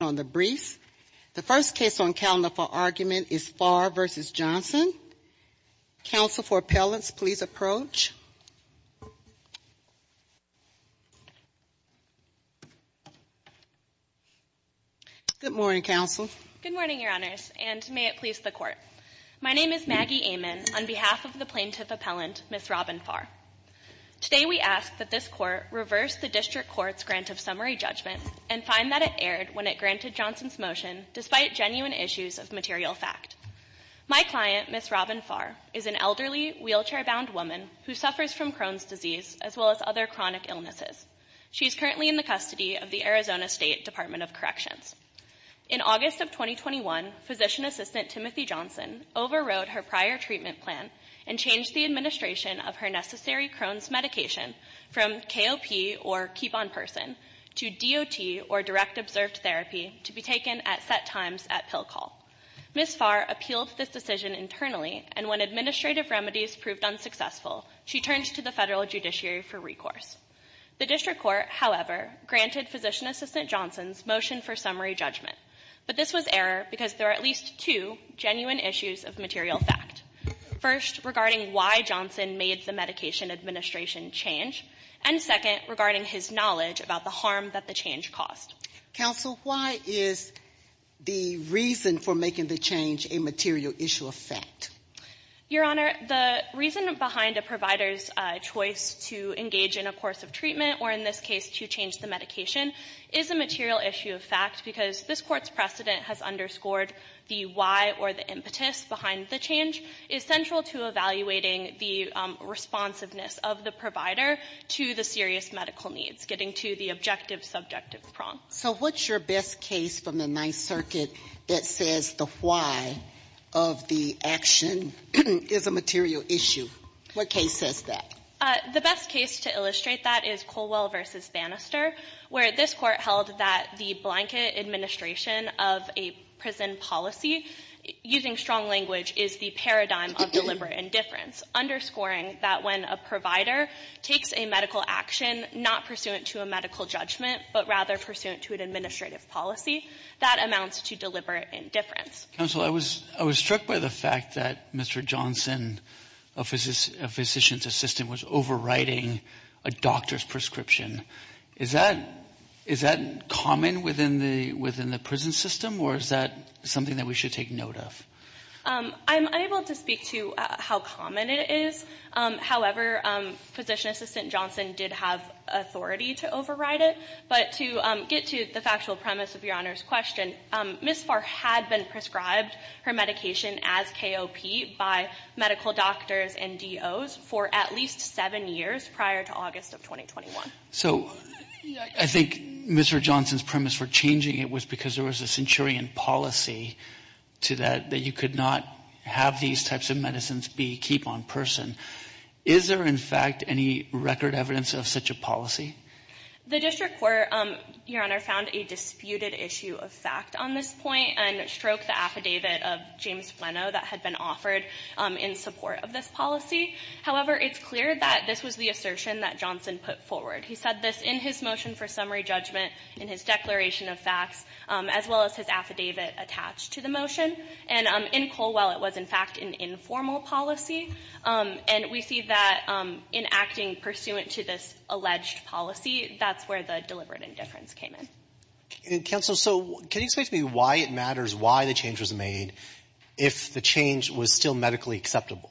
on the briefs. The first case on calendar for argument is Fahr v. Johnson. Counsel for appellants, please approach. Good morning, counsel. Good morning, Your Honors, and may it please the Court. My name is Maggie Amon on behalf of the plaintiff appellant, Ms. Robin Fahr. Today we ask that this Court reverse the District Court's grant of summary judgment and find that it erred when it granted Johnson's motion despite genuine issues of material fact. My client, Ms. Robin Fahr, is an elderly, wheelchair-bound woman who suffers from Crohn's disease as well as other chronic illnesses. She is currently in the custody of the Arizona State Department of Corrections. In August of 2021, physician assistant Timothy Johnson overrode her prior treatment plan and changed the administration of her necessary Crohn's medication from KOP, or keep-on-person, to DOT, or direct-observed therapy, to be taken at set times at pill call. Ms. Fahr appealed this decision internally, and when administrative remedies proved unsuccessful, she turned to the federal judiciary for recourse. The District Court, however, granted physician assistant Johnson's motion for summary judgment. But this was error because there are at least two genuine issues of material fact. First, regarding why Johnson made the medication administration change, and second, regarding his knowledge about the harm that the change caused. Counsel, why is the reason for making the change a material issue of fact? Your Honor, the reason behind a provider's choice to engage in a course of treatment, or in this case, to change the medication, is a material issue of fact because this Court's precedent has underscored the why or the impetus behind the change is central to evaluating the responsiveness of the provider to the serious medical needs, getting to the objective, subjective prong. So what's your best case from the Ninth Circuit that says the why of the action is a material issue? What case says that? The best case to illustrate that is Colwell v. Bannister, where this Court held that the blanket administration of a prison policy, using strong language, is the paradigm of deliberate indifference, underscoring that when a provider takes a medical action not pursuant to a medical judgment, but rather pursuant to an administrative policy, that amounts to deliberate indifference. Counsel, I was struck by the fact that Mr. Johnson, a physician's assistant, was overriding a doctor's prescription. Is that common within the prison system, or is that something that we should take note of? I'm unable to speak to how common it is. However, physician assistant Johnson did have authority to override it. But to get to the factual premise of Your Honor's question, Ms. Farr had been prescribed her medication as KOP by medical doctors and DOs for at least seven years prior to August of 2021. So I think Mr. Johnson's premise for changing it was because there was a centurion policy to that, that you could not have these types of medicines be keep-on-person. Is there, in fact, any record evidence of such a policy? The district court, Your Honor, found a disputed issue of fact on this point and stroked the affidavit of James Flanau that had been offered in support of this policy. However, it's clear that this was the assertion that Johnson put forward. He said this in his motion for summary judgment, in his declaration of facts, as well as his affidavit attached to the motion. And in Colwell, it was, in fact, an informal policy. And we see that in acting pursuant to this alleged policy, that's where the deliberate indifference came in. Counsel, so can you explain to me why it matters, why the change was made, if the change was still medically acceptable?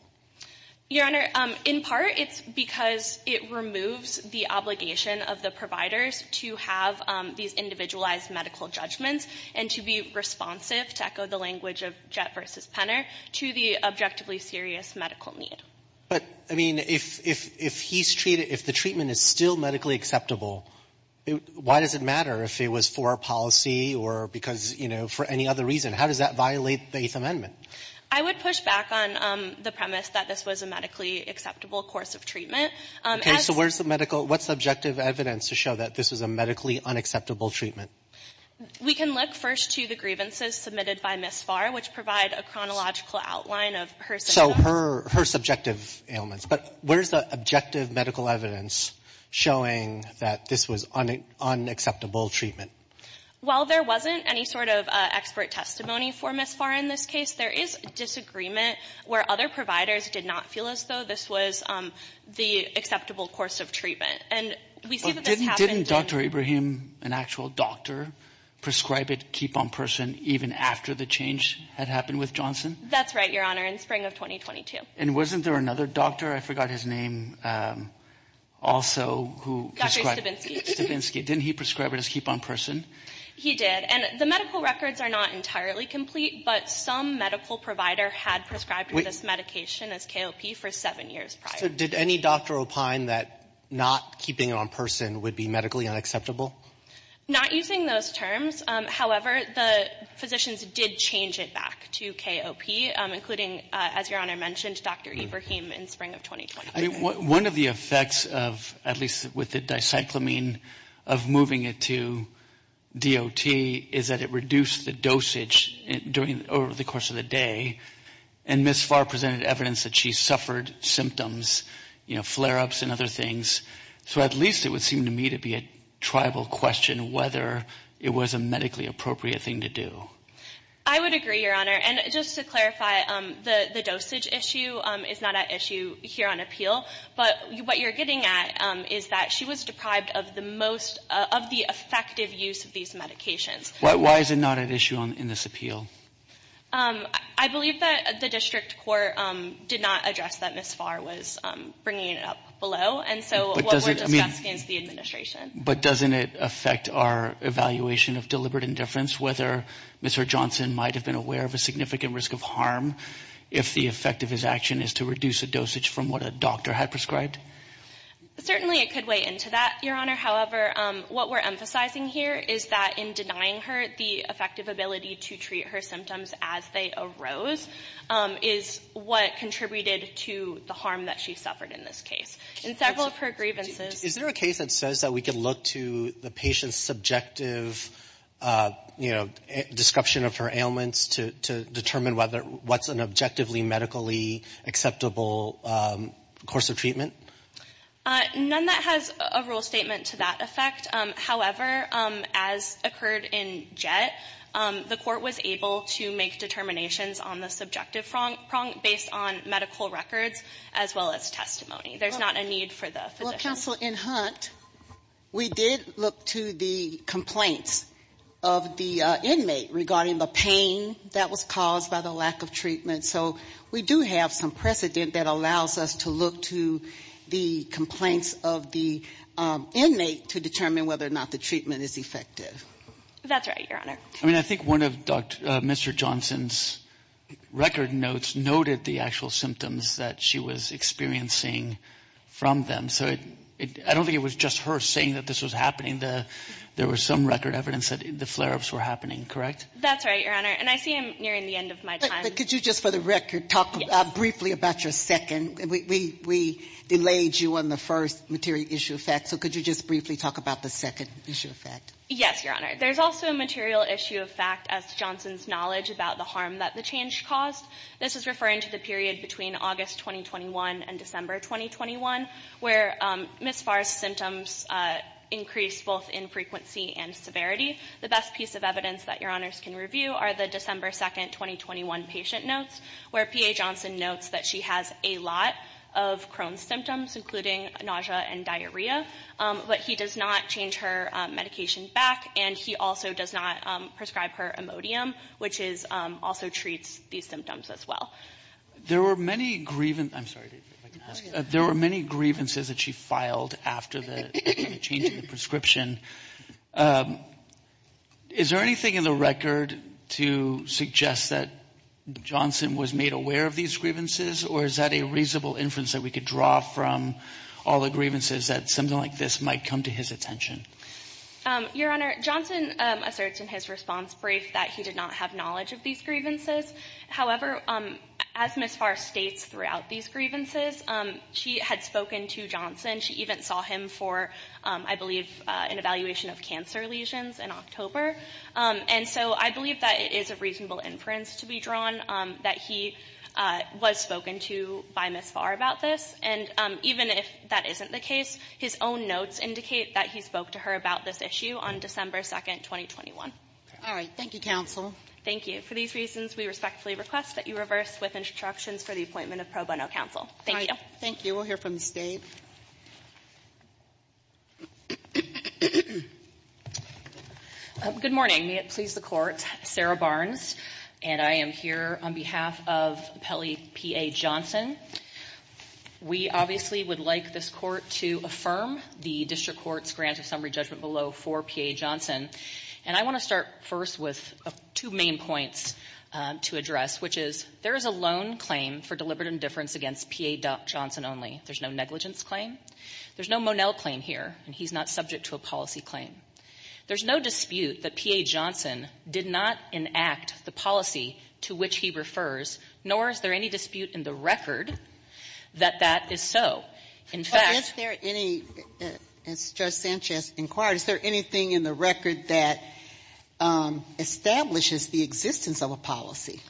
Your Honor, in part, it's because it removes the obligation of the providers to have these individualized medical judgments and to be responsive, to echo the language of Jett v. Penner, to the objectively serious medical need. But, I mean, if he's treated, if the treatment is still medically acceptable, why does it matter if it was for a policy or because, you know, for any other reason? How does that violate the Eighth Amendment? I would push back on the premise that this was a medically acceptable course of treatment. Okay, so where's the medical, what's the objective evidence to show that this was a medically unacceptable treatment? We can look first to the grievances submitted by Ms. Farr, which provide a chronological outline of her situation. So her subjective ailments. But where's the objective medical evidence showing that this was unacceptable treatment? While there wasn't any sort of expert testimony for Ms. Farr in this case, there is disagreement where other providers did not feel as though this was the acceptable course of treatment. And we see that this happened— But didn't Dr. Ibrahim, an actual doctor, prescribe it keep-on-person even after the change had happened with Johnson? That's right, Your Honor, in spring of 2022. And wasn't there another doctor, I forgot his name, also, who prescribed— Stabinsky. Didn't he prescribe it as keep-on-person? He did. And the medical records are not entirely complete, but some medical provider had prescribed this medication as KOP for seven years prior. So did any doctor opine that not keeping it on person would be medically unacceptable? Not using those terms. However, the physicians did change it back to KOP, including, as Your Honor mentioned, Dr. Ibrahim in spring of 2020. One of the effects, at least with the dicyclamine, of moving it to DOT is that it reduced the dosage over the course of the day. And Ms. Farr presented evidence that she suffered symptoms, flare-ups and other things. So at least it would seem to me to be a tribal question whether it was a medically appropriate thing to do. I would agree, Your Honor. And just to clarify, the dosage issue is not at issue here on appeal. But what you're getting at is that she was deprived of the most—of the effective use of these medications. Why is it not at issue in this appeal? I believe that the district court did not address that Ms. Farr was bringing it up below. And so what we're discussing is the administration. But doesn't it affect our evaluation of deliberate indifference, whether Mr. Johnson might have been aware of a significant risk of harm if the effect of his action is to reduce the dosage from what a doctor had prescribed? Certainly it could weigh into that, Your Honor. However, what we're emphasizing here is that in denying her the effective ability to treat her symptoms as they arose is what contributed to the harm that she suffered in this case. In several of her grievances— Is there a case that says that we can look to the patient's subjective, you know, description of her ailments to determine whether what's an objectively medically acceptable course of treatment? None that has a rule statement to that effect. However, as occurred in Jett, the court was able to make determinations on the subjective prong based on medical records as well as testimony. There's not a need for the physician. Counsel, in Hunt, we did look to the complaints of the inmate regarding the pain that was caused by the lack of treatment. So we do have some precedent that allows us to look to the complaints of the inmate to determine whether or not the treatment is effective. That's right, Your Honor. I mean, I think one of Mr. Johnson's record notes noted the actual symptoms that she was experiencing from them. So I don't think it was just her saying that this was happening. There was some record evidence that the flare-ups were happening, correct? That's right, Your Honor. And I see I'm nearing the end of my time. But could you just, for the record, talk briefly about your second? We delayed you on the first material issue of fact. So could you just briefly talk about the second issue of fact? Yes, Your Honor. There's also a material issue of fact as to Johnson's knowledge about the harm that the change caused. This is referring to the period between August 2021 and December 2021, where Ms. Farr's symptoms increased both in frequency and severity. The best piece of evidence that Your Honors can review are the December 2, 2021 patient notes, where P.A. Johnson notes that she has a lot of Crohn's symptoms, including nausea and diarrhea, but he does not change her medication back, and he also does not prescribe her Imodium, which also treats these symptoms as well. There were many grievances that she filed after the change in the prescription. Is there anything in the record to suggest that Johnson was made aware of these grievances, or is that a reasonable inference that we could draw from all the grievances that something like this might come to his attention? Your Honor, Johnson asserts in his response brief that he did not have knowledge of these grievances. However, as Ms. Farr states throughout these grievances, she had spoken to Johnson. She even saw him for, I believe, an evaluation of cancer lesions in October. And so I believe that it is a reasonable inference to be drawn that he was spoken to by Ms. Farr about this. And even if that isn't the case, his own notes indicate that he spoke to her about this issue on December 2, 2021. All right. Thank you, counsel. Thank you. For these reasons, we respectfully request that you reverse with instructions for the appointment of pro bono counsel. Thank you. Thank you. We'll hear from Ms. Dave. Good morning. May it please the Court. Sarah Barnes, and I am here on behalf of P.A. Johnson. We obviously would like this Court to affirm the district court's grant of summary judgment below for P.A. Johnson. And I want to start first with two main points to address, which is there is a loan claim for deliberate indifference against P.A. Johnson only. There's no negligence claim. There's no Monell claim here, and he's not subject to a policy claim. There's no dispute that P.A. Johnson did not enact the policy to which he refers, nor is there any dispute in the record that that is so. In fact. Is there any, as Judge Sanchez inquired, is there anything in the record that establishes the existence of a policy?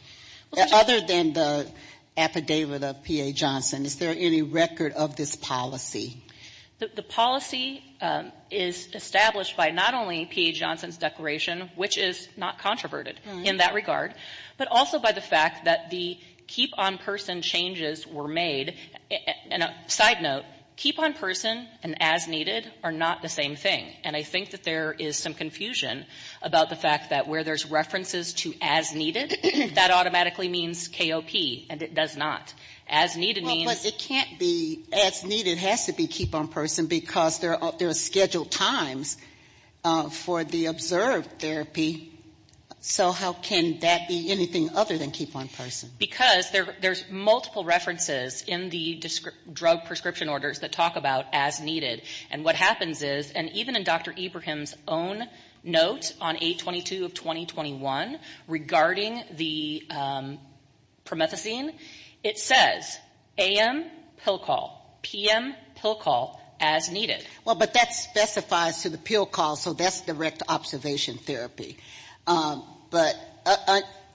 Other than the affidavit of P.A. Johnson, is there any record of this policy? The policy is established by not only P.A. Johnson's declaration, which is not that the keep-on-person changes were made. And a side note, keep-on-person and as-needed are not the same thing. And I think that there is some confusion about the fact that where there's references to as-needed, that automatically means KOP, and it does not. As-needed means Well, but it can't be as-needed has to be keep-on-person because there are scheduled times for the observed therapy. So how can that be anything other than keep-on-person? Because there's multiple references in the drug prescription orders that talk about as-needed. And what happens is, and even in Dr. Ibrahim's own note on 822 of 2021 regarding the promethazine, it says AM pill call, PM pill call as-needed. Well, but that specifies to the pill call, so that's direct observation therapy. But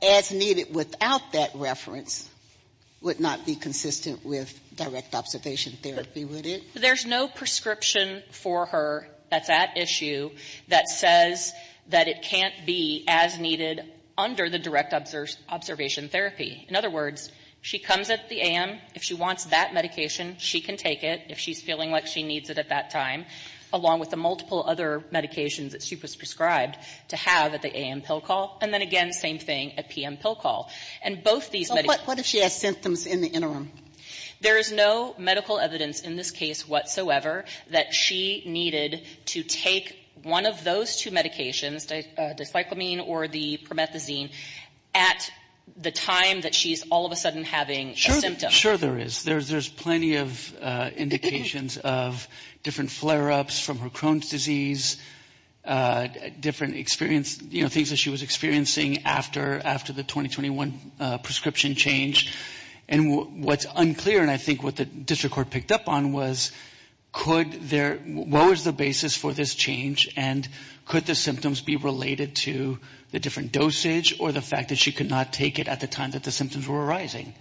as-needed without that reference would not be consistent with direct observation therapy, would it? There's no prescription for her that's at issue that says that it can't be as-needed under the direct observation therapy. In other words, she comes at the AM. If she wants that medication, she can take it. If she's feeling like she needs it at that time, along with the multiple other medications that she was prescribed to have at the AM pill call. And then again, same thing at PM pill call. And both these medications So what if she has symptoms in the interim? There is no medical evidence in this case whatsoever that she needed to take one of those two medications, the cyclamine or the promethazine, at the time that she's all of a sudden having a symptom. Sure there is. There's plenty of indications of different flare-ups from her Crohn's disease, different things that she was experiencing after the 2021 prescription change. And what's unclear, and I think what the district court picked up on was, what was the basis for this change and could the symptoms be related to the different dosage or the fact that she could not take it at the time that the symptoms were arising?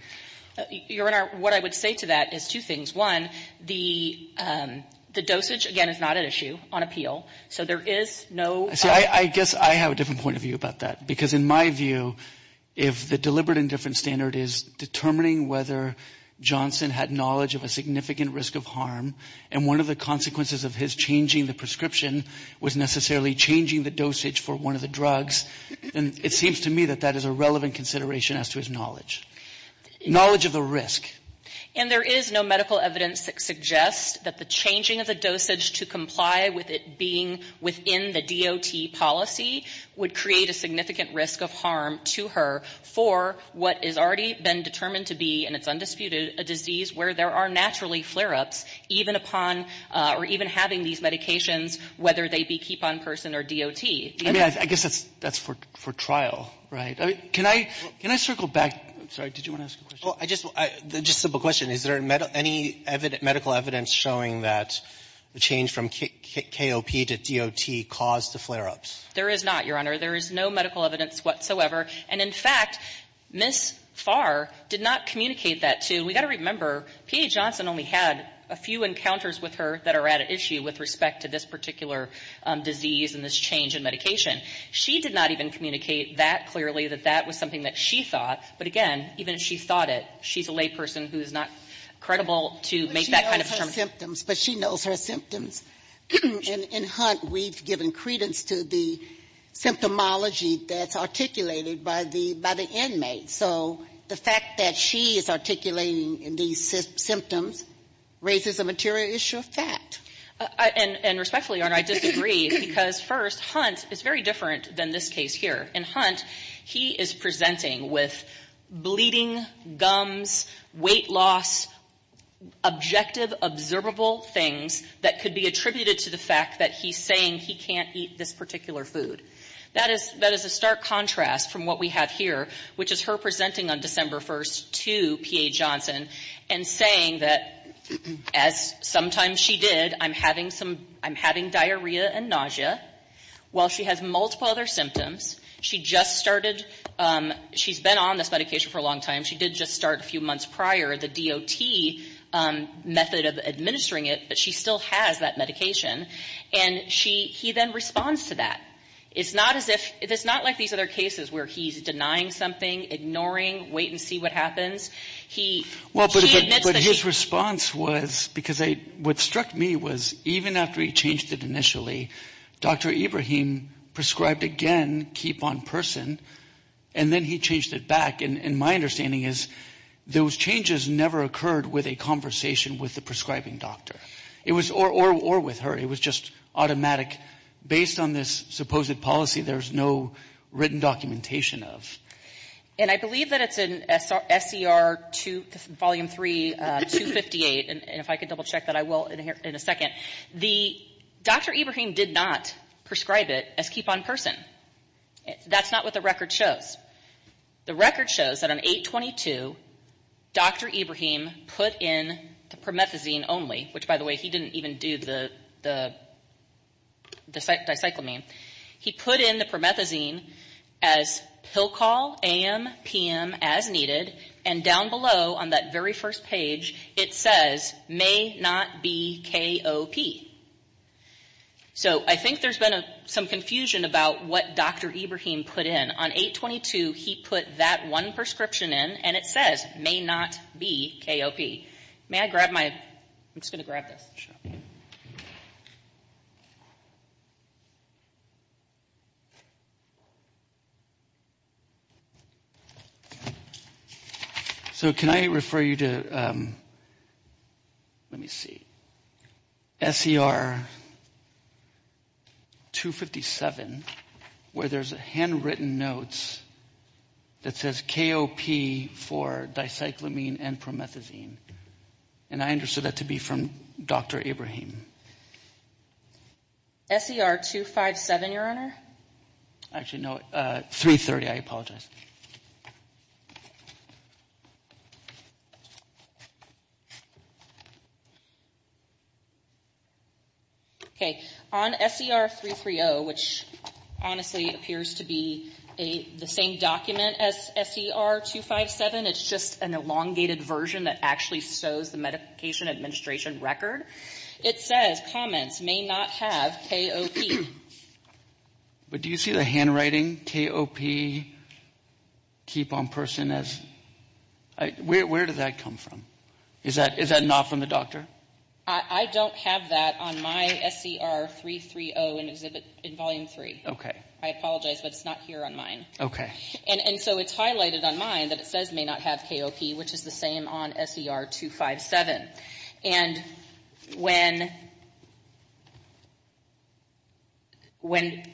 Your Honor, what I would say to that is two things. One, the dosage, again, is not an issue on appeal. So there is no See, I guess I have a different point of view about that. Because in my view, if the deliberate indifference standard is determining whether Johnson had knowledge of a significant risk of harm, and one of the consequences of his changing the prescription was necessarily changing the dosage for one of the drugs, then it seems to me that that is a relevant consideration as to his knowledge. Knowledge of the risk. And there is no medical evidence that suggests that the changing of the dosage to comply with it being within the DOT policy would create a significant risk of harm to her for what has already been determined to be, and it's undisputed, a disease where there are naturally flare-ups, even upon or even having these medications, whether they be keep-on-person or DOT. I mean, I guess that's for trial, right? Can I circle back? I'm sorry. Did you want to ask a question? Just a simple question. Is there any medical evidence showing that the change from KOP to DOT caused the flare-ups? There is not, Your Honor. There is no medical evidence whatsoever. And in fact, Ms. Farr did not communicate that to you. We've got to remember, PA Johnson only had a few encounters with her that are at issue with respect to this particular disease and this change in medication. She did not even communicate that clearly, that that was something that she thought. But again, even if she thought it, she's a layperson who is not credible to make that kind of determination. But she knows her symptoms. But she knows her symptoms. In Hunt, we've given credence to the symptomology that's articulated by the inmate. So the fact that she is articulating these symptoms raises a material issue of fact. And respectfully, Your Honor, I disagree, because first, Hunt is very different than this case here. In Hunt, he is presenting with bleeding, gums, weight loss, objective, observable things that could be attributed to the fact that he's saying he can't eat this particular food. That is a stark contrast from what we have here, which is her presenting on December 1st to PA Johnson and saying that, as sometimes she did, I'm having some, I'm having diarrhea and nausea. While she has multiple other symptoms, she just started, she's been on this medication for a long time. She did just start a few months prior the DOT method of administering it. But she still has that medication. And she, he then responds to that. It's not as if, it's not like these other cases where he's denying something, ignoring, wait and see what happens. He admits that he... Well, but his response was, because what struck me was, even after he changed it initially, Dr. Ibrahim prescribed again, keep on person, and then he changed it back. And my understanding is those changes never occurred with a conversation with the prescribing doctor. It was, or with her. It was just automatic. Based on this supposed policy, there's no written documentation of. And I believe that it's in SCR 2, Volume 3, 258. And if I could double check that, I will in a second. The, Dr. Ibrahim did not prescribe it as keep on person. That's not what the record shows. The record shows that on 8-22, Dr. Ibrahim put in the promethazine only, which by the way, he didn't even do the, the, the cyclamine. He put in the promethazine as pill call, AM, PM, as needed. And down below on that very first page, it says, may not be KOP. So, I think there's been a, some confusion about what Dr. Ibrahim put in. On 8-22, he put that one prescription in, and it says, may not be KOP. May I grab my, I'm just going to grab this. I'm going to grab my prescription. So, can I refer you to, let me see. SCR 257, where there's handwritten notes that says KOP for dicyclamine and promethazine. And I understood that to be from Dr. Ibrahim. SCR 257, Your Honor. Actually, no. 330, I apologize. Okay. On SCR 330, which honestly appears to be the same document as SCR 257, it's just an administration record. It says, comments, may not have KOP. But do you see the handwriting, KOP, keep on person as, where did that come from? Is that not from the doctor? I don't have that on my SCR 330 in Volume 3. Okay. I apologize, but it's not here on mine. Okay. And so it's highlighted on mine that it says may not have KOP, which is the same on SCR 257. And when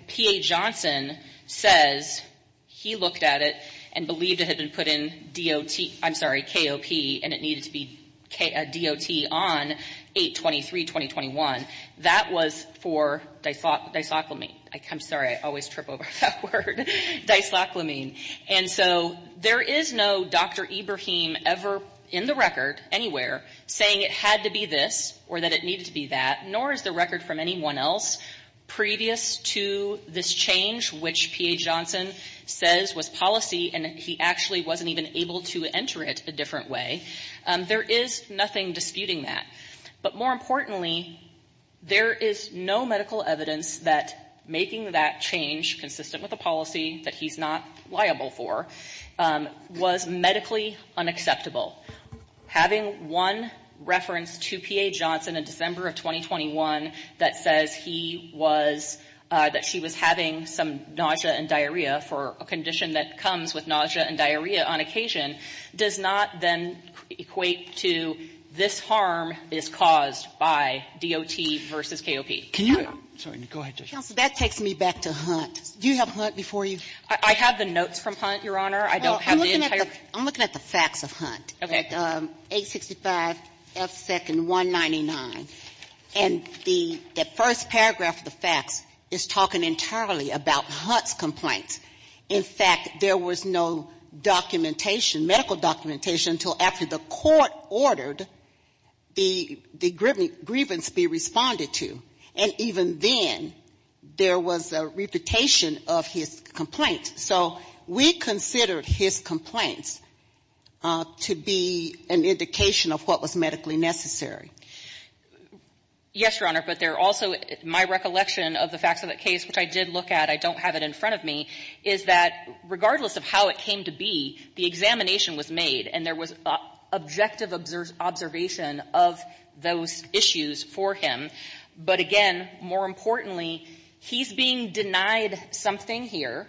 P.A. Johnson says he looked at it and believed it had been put in DOT, I'm sorry, KOP, and it needed to be DOT on 8-23-2021, that was for dicyclamine. I'm sorry, I always trip over that word. Dicyclamine. And so there is no Dr. Ibrahim ever in the record anywhere saying it had to be this or that it needed to be that, nor is the record from anyone else previous to this change, which P.A. Johnson says was policy and he actually wasn't even able to enter it a different way. There is nothing disputing that. But more importantly, there is no medical evidence that making that change, consistent with the policy that he's not liable for, was medically unacceptable. Having one reference to P.A. Johnson in December of 2021 that says he was, that she was having some nausea and diarrhea for a condition that comes with nausea and diarrhea on occasion, does not then equate to this harm is caused by DOT versus KOP. Sotomayor, go ahead, Judge. Counsel, that takes me back to Hunt. Do you have Hunt before you? I have the notes from Hunt, Your Honor. I don't have the entire. Well, I'm looking at the facts of Hunt. Okay. At 865 F. 2nd 199. And the first paragraph of the facts is talking entirely about Hunt's complaint. In fact, there was no documentation, medical documentation, until after the court ordered the grievance be responded to. And even then, there was a repetition of his complaint. So we considered his complaints to be an indication of what was medically necessary. Yes, Your Honor. But there also, my recollection of the facts of the case, which I did look at, I don't have it in front of me, is that regardless of how it came to be, the examination was made and there was objective observation of those issues for him. But again, more importantly, he's being denied something here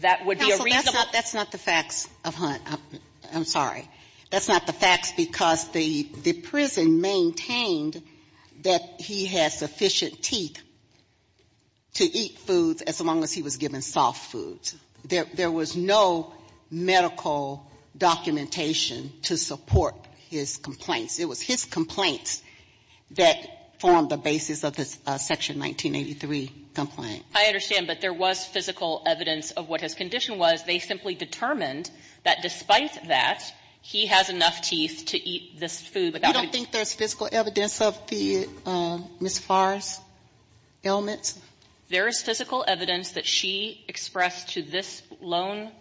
that would be a reasonable Counsel, that's not the facts of Hunt. I'm sorry. That's not the facts because the prison maintained that he had sufficient teeth to eat foods as long as he was given soft foods. There was no medical documentation to support his complaints. It was his complaints that formed the basis of this Section 1983 complaint. I understand. But there was physical evidence of what his condition was. They simply determined that despite that, he has enough teeth to eat this food without having to eat soft foods. There is physical evidence that she expressed to this lone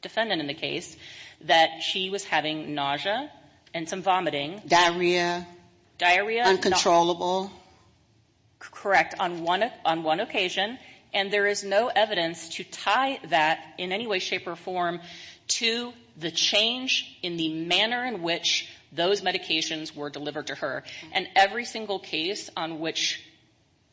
defendant in the case that she was having nausea and some vomiting. Diarrhea. Uncontrollable. Correct. On one occasion. And there is no evidence to tie that in any way, shape, or form to the change in the manner in which those medications were delivered to her. And every single case on which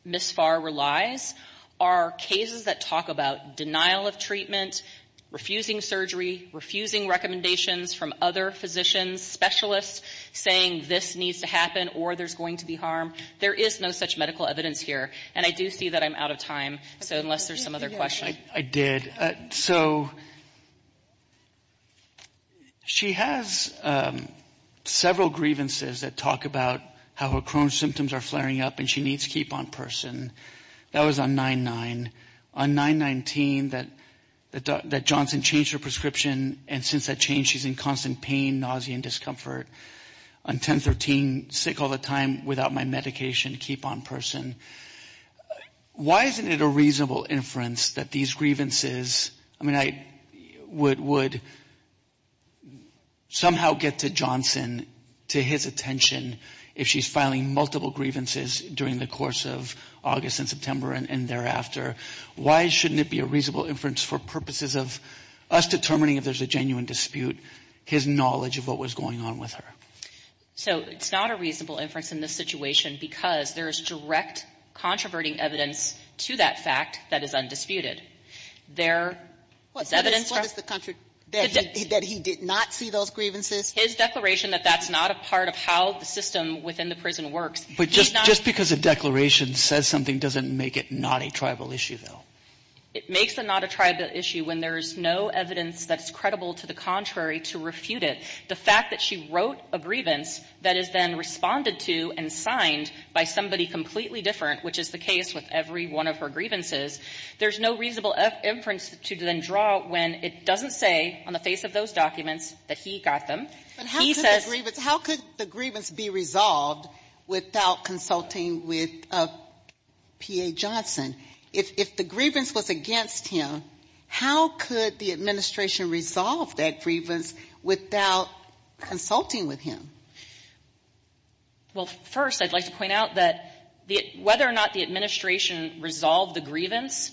Ms. Farr relies are cases that talk about denial of treatment, refusing surgery, refusing recommendations from other physicians, specialists saying this needs to happen or there's going to be harm. There is no such medical evidence here. And I do see that I'm out of time, so unless there's some other questions. I did. So she has several grievances that talk about how her chronic symptoms are flaring up and she needs to keep on person. That was on 9-9. On 9-19, that Johnson changed her prescription and since that change, she's in constant pain, nausea, and discomfort. On 10-13, sick all the time without my medication, keep on person. Why isn't it a reasonable inference that these grievances, I mean, I would somehow get to Johnson, to his attention, if she's filing multiple grievances during the course of August and September and thereafter. Why shouldn't it be a reasonable inference for purposes of us determining if there's a genuine dispute, his knowledge of what was going on with her? So it's not a reasonable inference in this situation because there is direct controverting evidence to that fact that is undisputed. There is evidence from the country that he did not see those grievances. His declaration that that's not a part of how the system within the prison works. But just because a declaration says something doesn't make it not a tribal issue, though. It makes it not a tribal issue when there's no evidence that's credible to the contrary to refute it. The fact that she wrote a grievance that is then responded to and signed by somebody completely different, which is the case with every one of her grievances, there's no reasonable inference to then draw when it doesn't say on the face of those documents that he got them. He says the grievance. How could the grievance be resolved without consulting with P.A. Johnson? If the grievance was against him, how could the administration resolve that grievance without consulting with him? Well, first, I'd like to point out that whether or not the administration resolved the grievance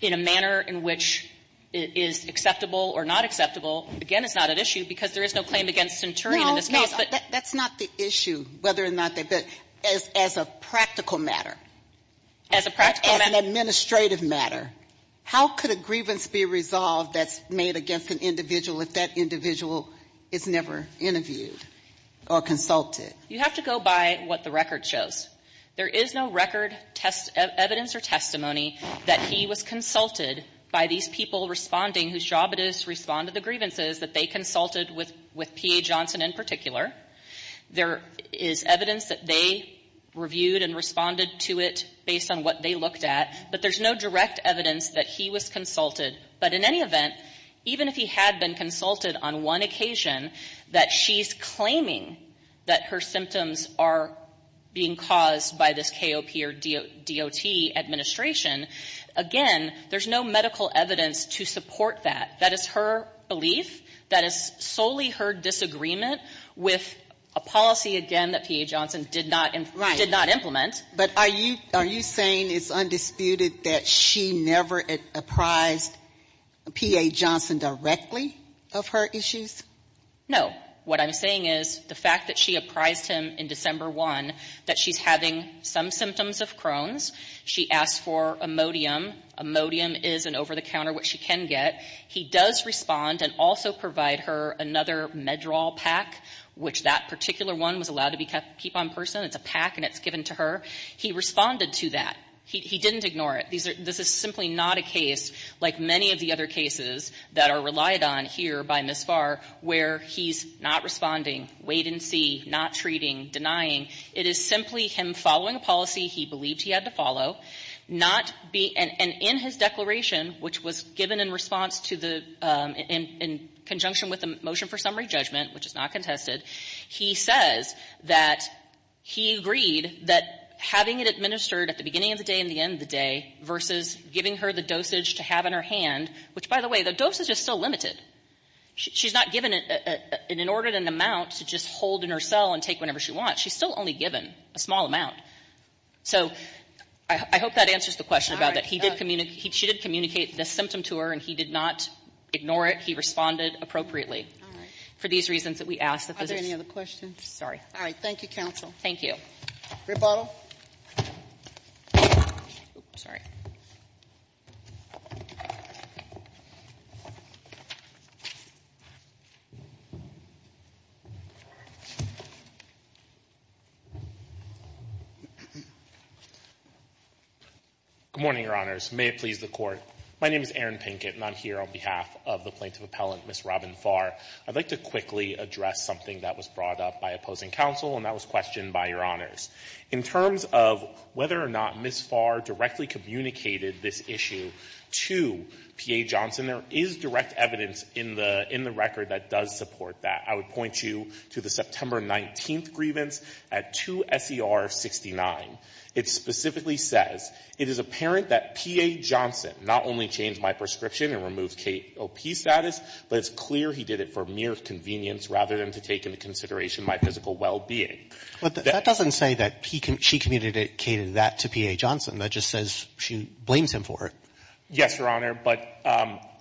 in a manner in which it is acceptable or not acceptable, again, it's not at issue because there is no claim against Centurion in this case. But that's not the issue, whether or not they're as a practical matter. As a practical matter. As an administrative matter. How could a grievance be resolved that's made against an individual if that individual is never interviewed or consulted? You have to go by what the record shows. There is no record, evidence or testimony that he was consulted by these people responding, whose job it is to respond to the grievances, that they consulted with P.A. Johnson in particular. There is evidence that they reviewed and responded to it based on what they looked at. But there's no direct evidence that he was consulted. But in any event, even if he had been consulted on one occasion that she's claiming that her symptoms are being caused by this KOP or DOT administration, again, there's no medical evidence to support that. That is her belief. That is solely her disagreement with a policy, again, that P.A. Johnson did not implement. But are you saying it's undisputed that she never apprised P.A. Johnson directly of her issues? No. What I'm saying is the fact that she apprised him in December 1 that she's having some symptoms of Crohn's. She asked for Imodium. Imodium is an over-the-counter which she can get. He does respond and also provide her another MedDRAW pack, which that particular one was allowed to keep on person. It's a pack and it's given to her. He responded to that. He didn't ignore it. This is simply not a case like many of the other cases that are relied on here by Ms. Farr where he's not responding, wait and see, not treating, denying. It is simply him following a policy he believed he had to follow, not be and in his declaration, which was given in response to the in conjunction with the motion for He agreed that having it administered at the beginning of the day and the end of the day versus giving her the dosage to have in her hand, which, by the way, the dosage is still limited. She's not given an inordinate amount to just hold in her cell and take whenever she wants. She's still only given a small amount. So I hope that answers the question about that. She did communicate this symptom to her and he did not ignore it. He responded appropriately for these reasons that we asked. Are there any other questions? Sorry. All right. Thank you, counsel. Thank you. Great bottle. Sorry. Good morning, Your Honors. May it please the Court. My name is Aaron Pinkett and I'm here on behalf of the plaintiff appellant, Ms. Robin Farr. I'd like to quickly address something that was brought up by opposing counsel and that was questioned by Your Honors. In terms of whether or not Ms. Farr directly communicated this issue to P.A. Johnson, there is direct evidence in the record that does support that. I would point you to the September 19th grievance at 2 S.E.R. 69. It specifically says, it is apparent that P.A. Johnson not only changed my prescription and removed KOP status, but it's clear he did it for mere convenience rather than to take into consideration my physical well-being. But that doesn't say that she communicated that to P.A. Johnson. That just says she blames him for it. Yes, Your Honor. But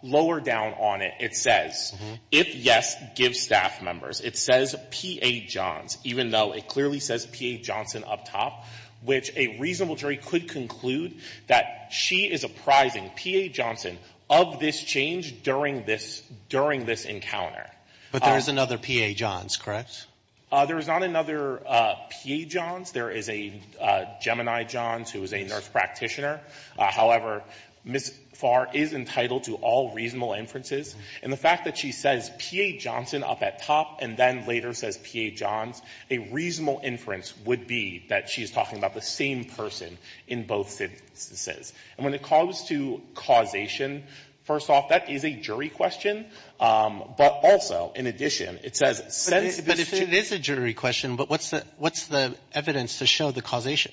lower down on it, it says, if yes, give staff members. It says P.A. Johns, even though it clearly says P.A. Johnson up top, which a reasonable jury could conclude that she is apprising P.A. Johnson of this change during this encounter. But there is another P.A. Johns, correct? There is not another P.A. Johns. There is a Gemini Johns who is a nurse practitioner. However, Ms. Farr is entitled to all reasonable inferences. And the fact that she says P.A. Johnson up at top and then later says P.A. Johns, a reasonable inference would be that she is talking about the same person in both sentences. And when it comes to causation, first off, that is a jury question. But also, in addition, it says since this change But it is a jury question, but what's the evidence to show the causation?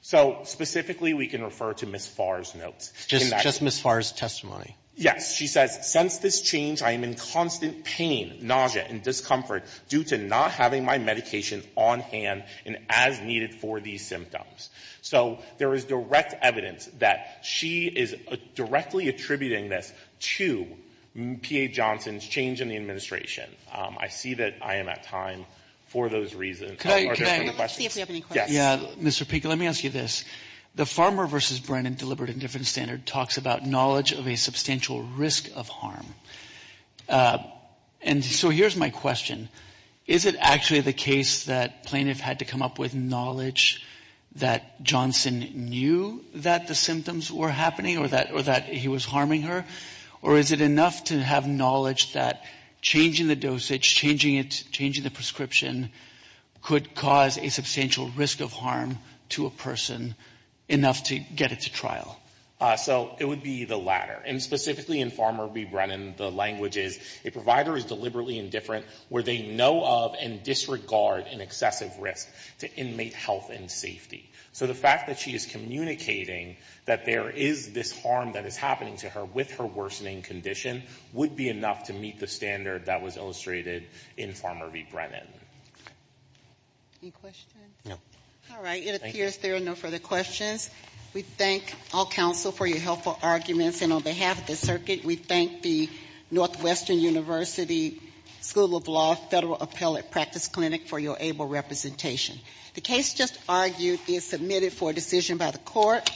So specifically, we can refer to Ms. Farr's notes. Just Ms. Farr's testimony. Yes. She says, since this change, I am in constant pain, nausea and discomfort due to not having my medication on hand and as needed for these symptoms. So there is direct evidence that she is directly attributing this to P.A. Johnson's change in the administration. I see that I am at time for those reasons. Are there further questions? Mr. Pinker, let me ask you this. The Farmer v. Brennan Deliberative Indifference Standard talks about knowledge of a substantial risk of harm. And so here's my question. Is it actually the case that plaintiff had to come up with knowledge that Johnson knew that the symptoms were happening or that he was harming her? Or is it enough to have knowledge that changing the dosage, changing the prescription could cause a substantial risk of harm to a person enough to get it to trial? So it would be the latter. And specifically in Farmer v. Brennan, the language is a provider is deliberately indifferent where they know of and disregard an excessive risk to inmate health and safety. So the fact that she is communicating that there is this harm that is happening to her with her worsening condition would be enough to meet the standard that was illustrated in Farmer v. Brennan. Any questions? No. All right. It appears there are no further questions. We thank all counsel for your helpful arguments. And on behalf of the circuit, we thank the Northwestern University School of Law Federal Appellate Practice Clinic for your able representation. The case just argued is submitted for decision by the court.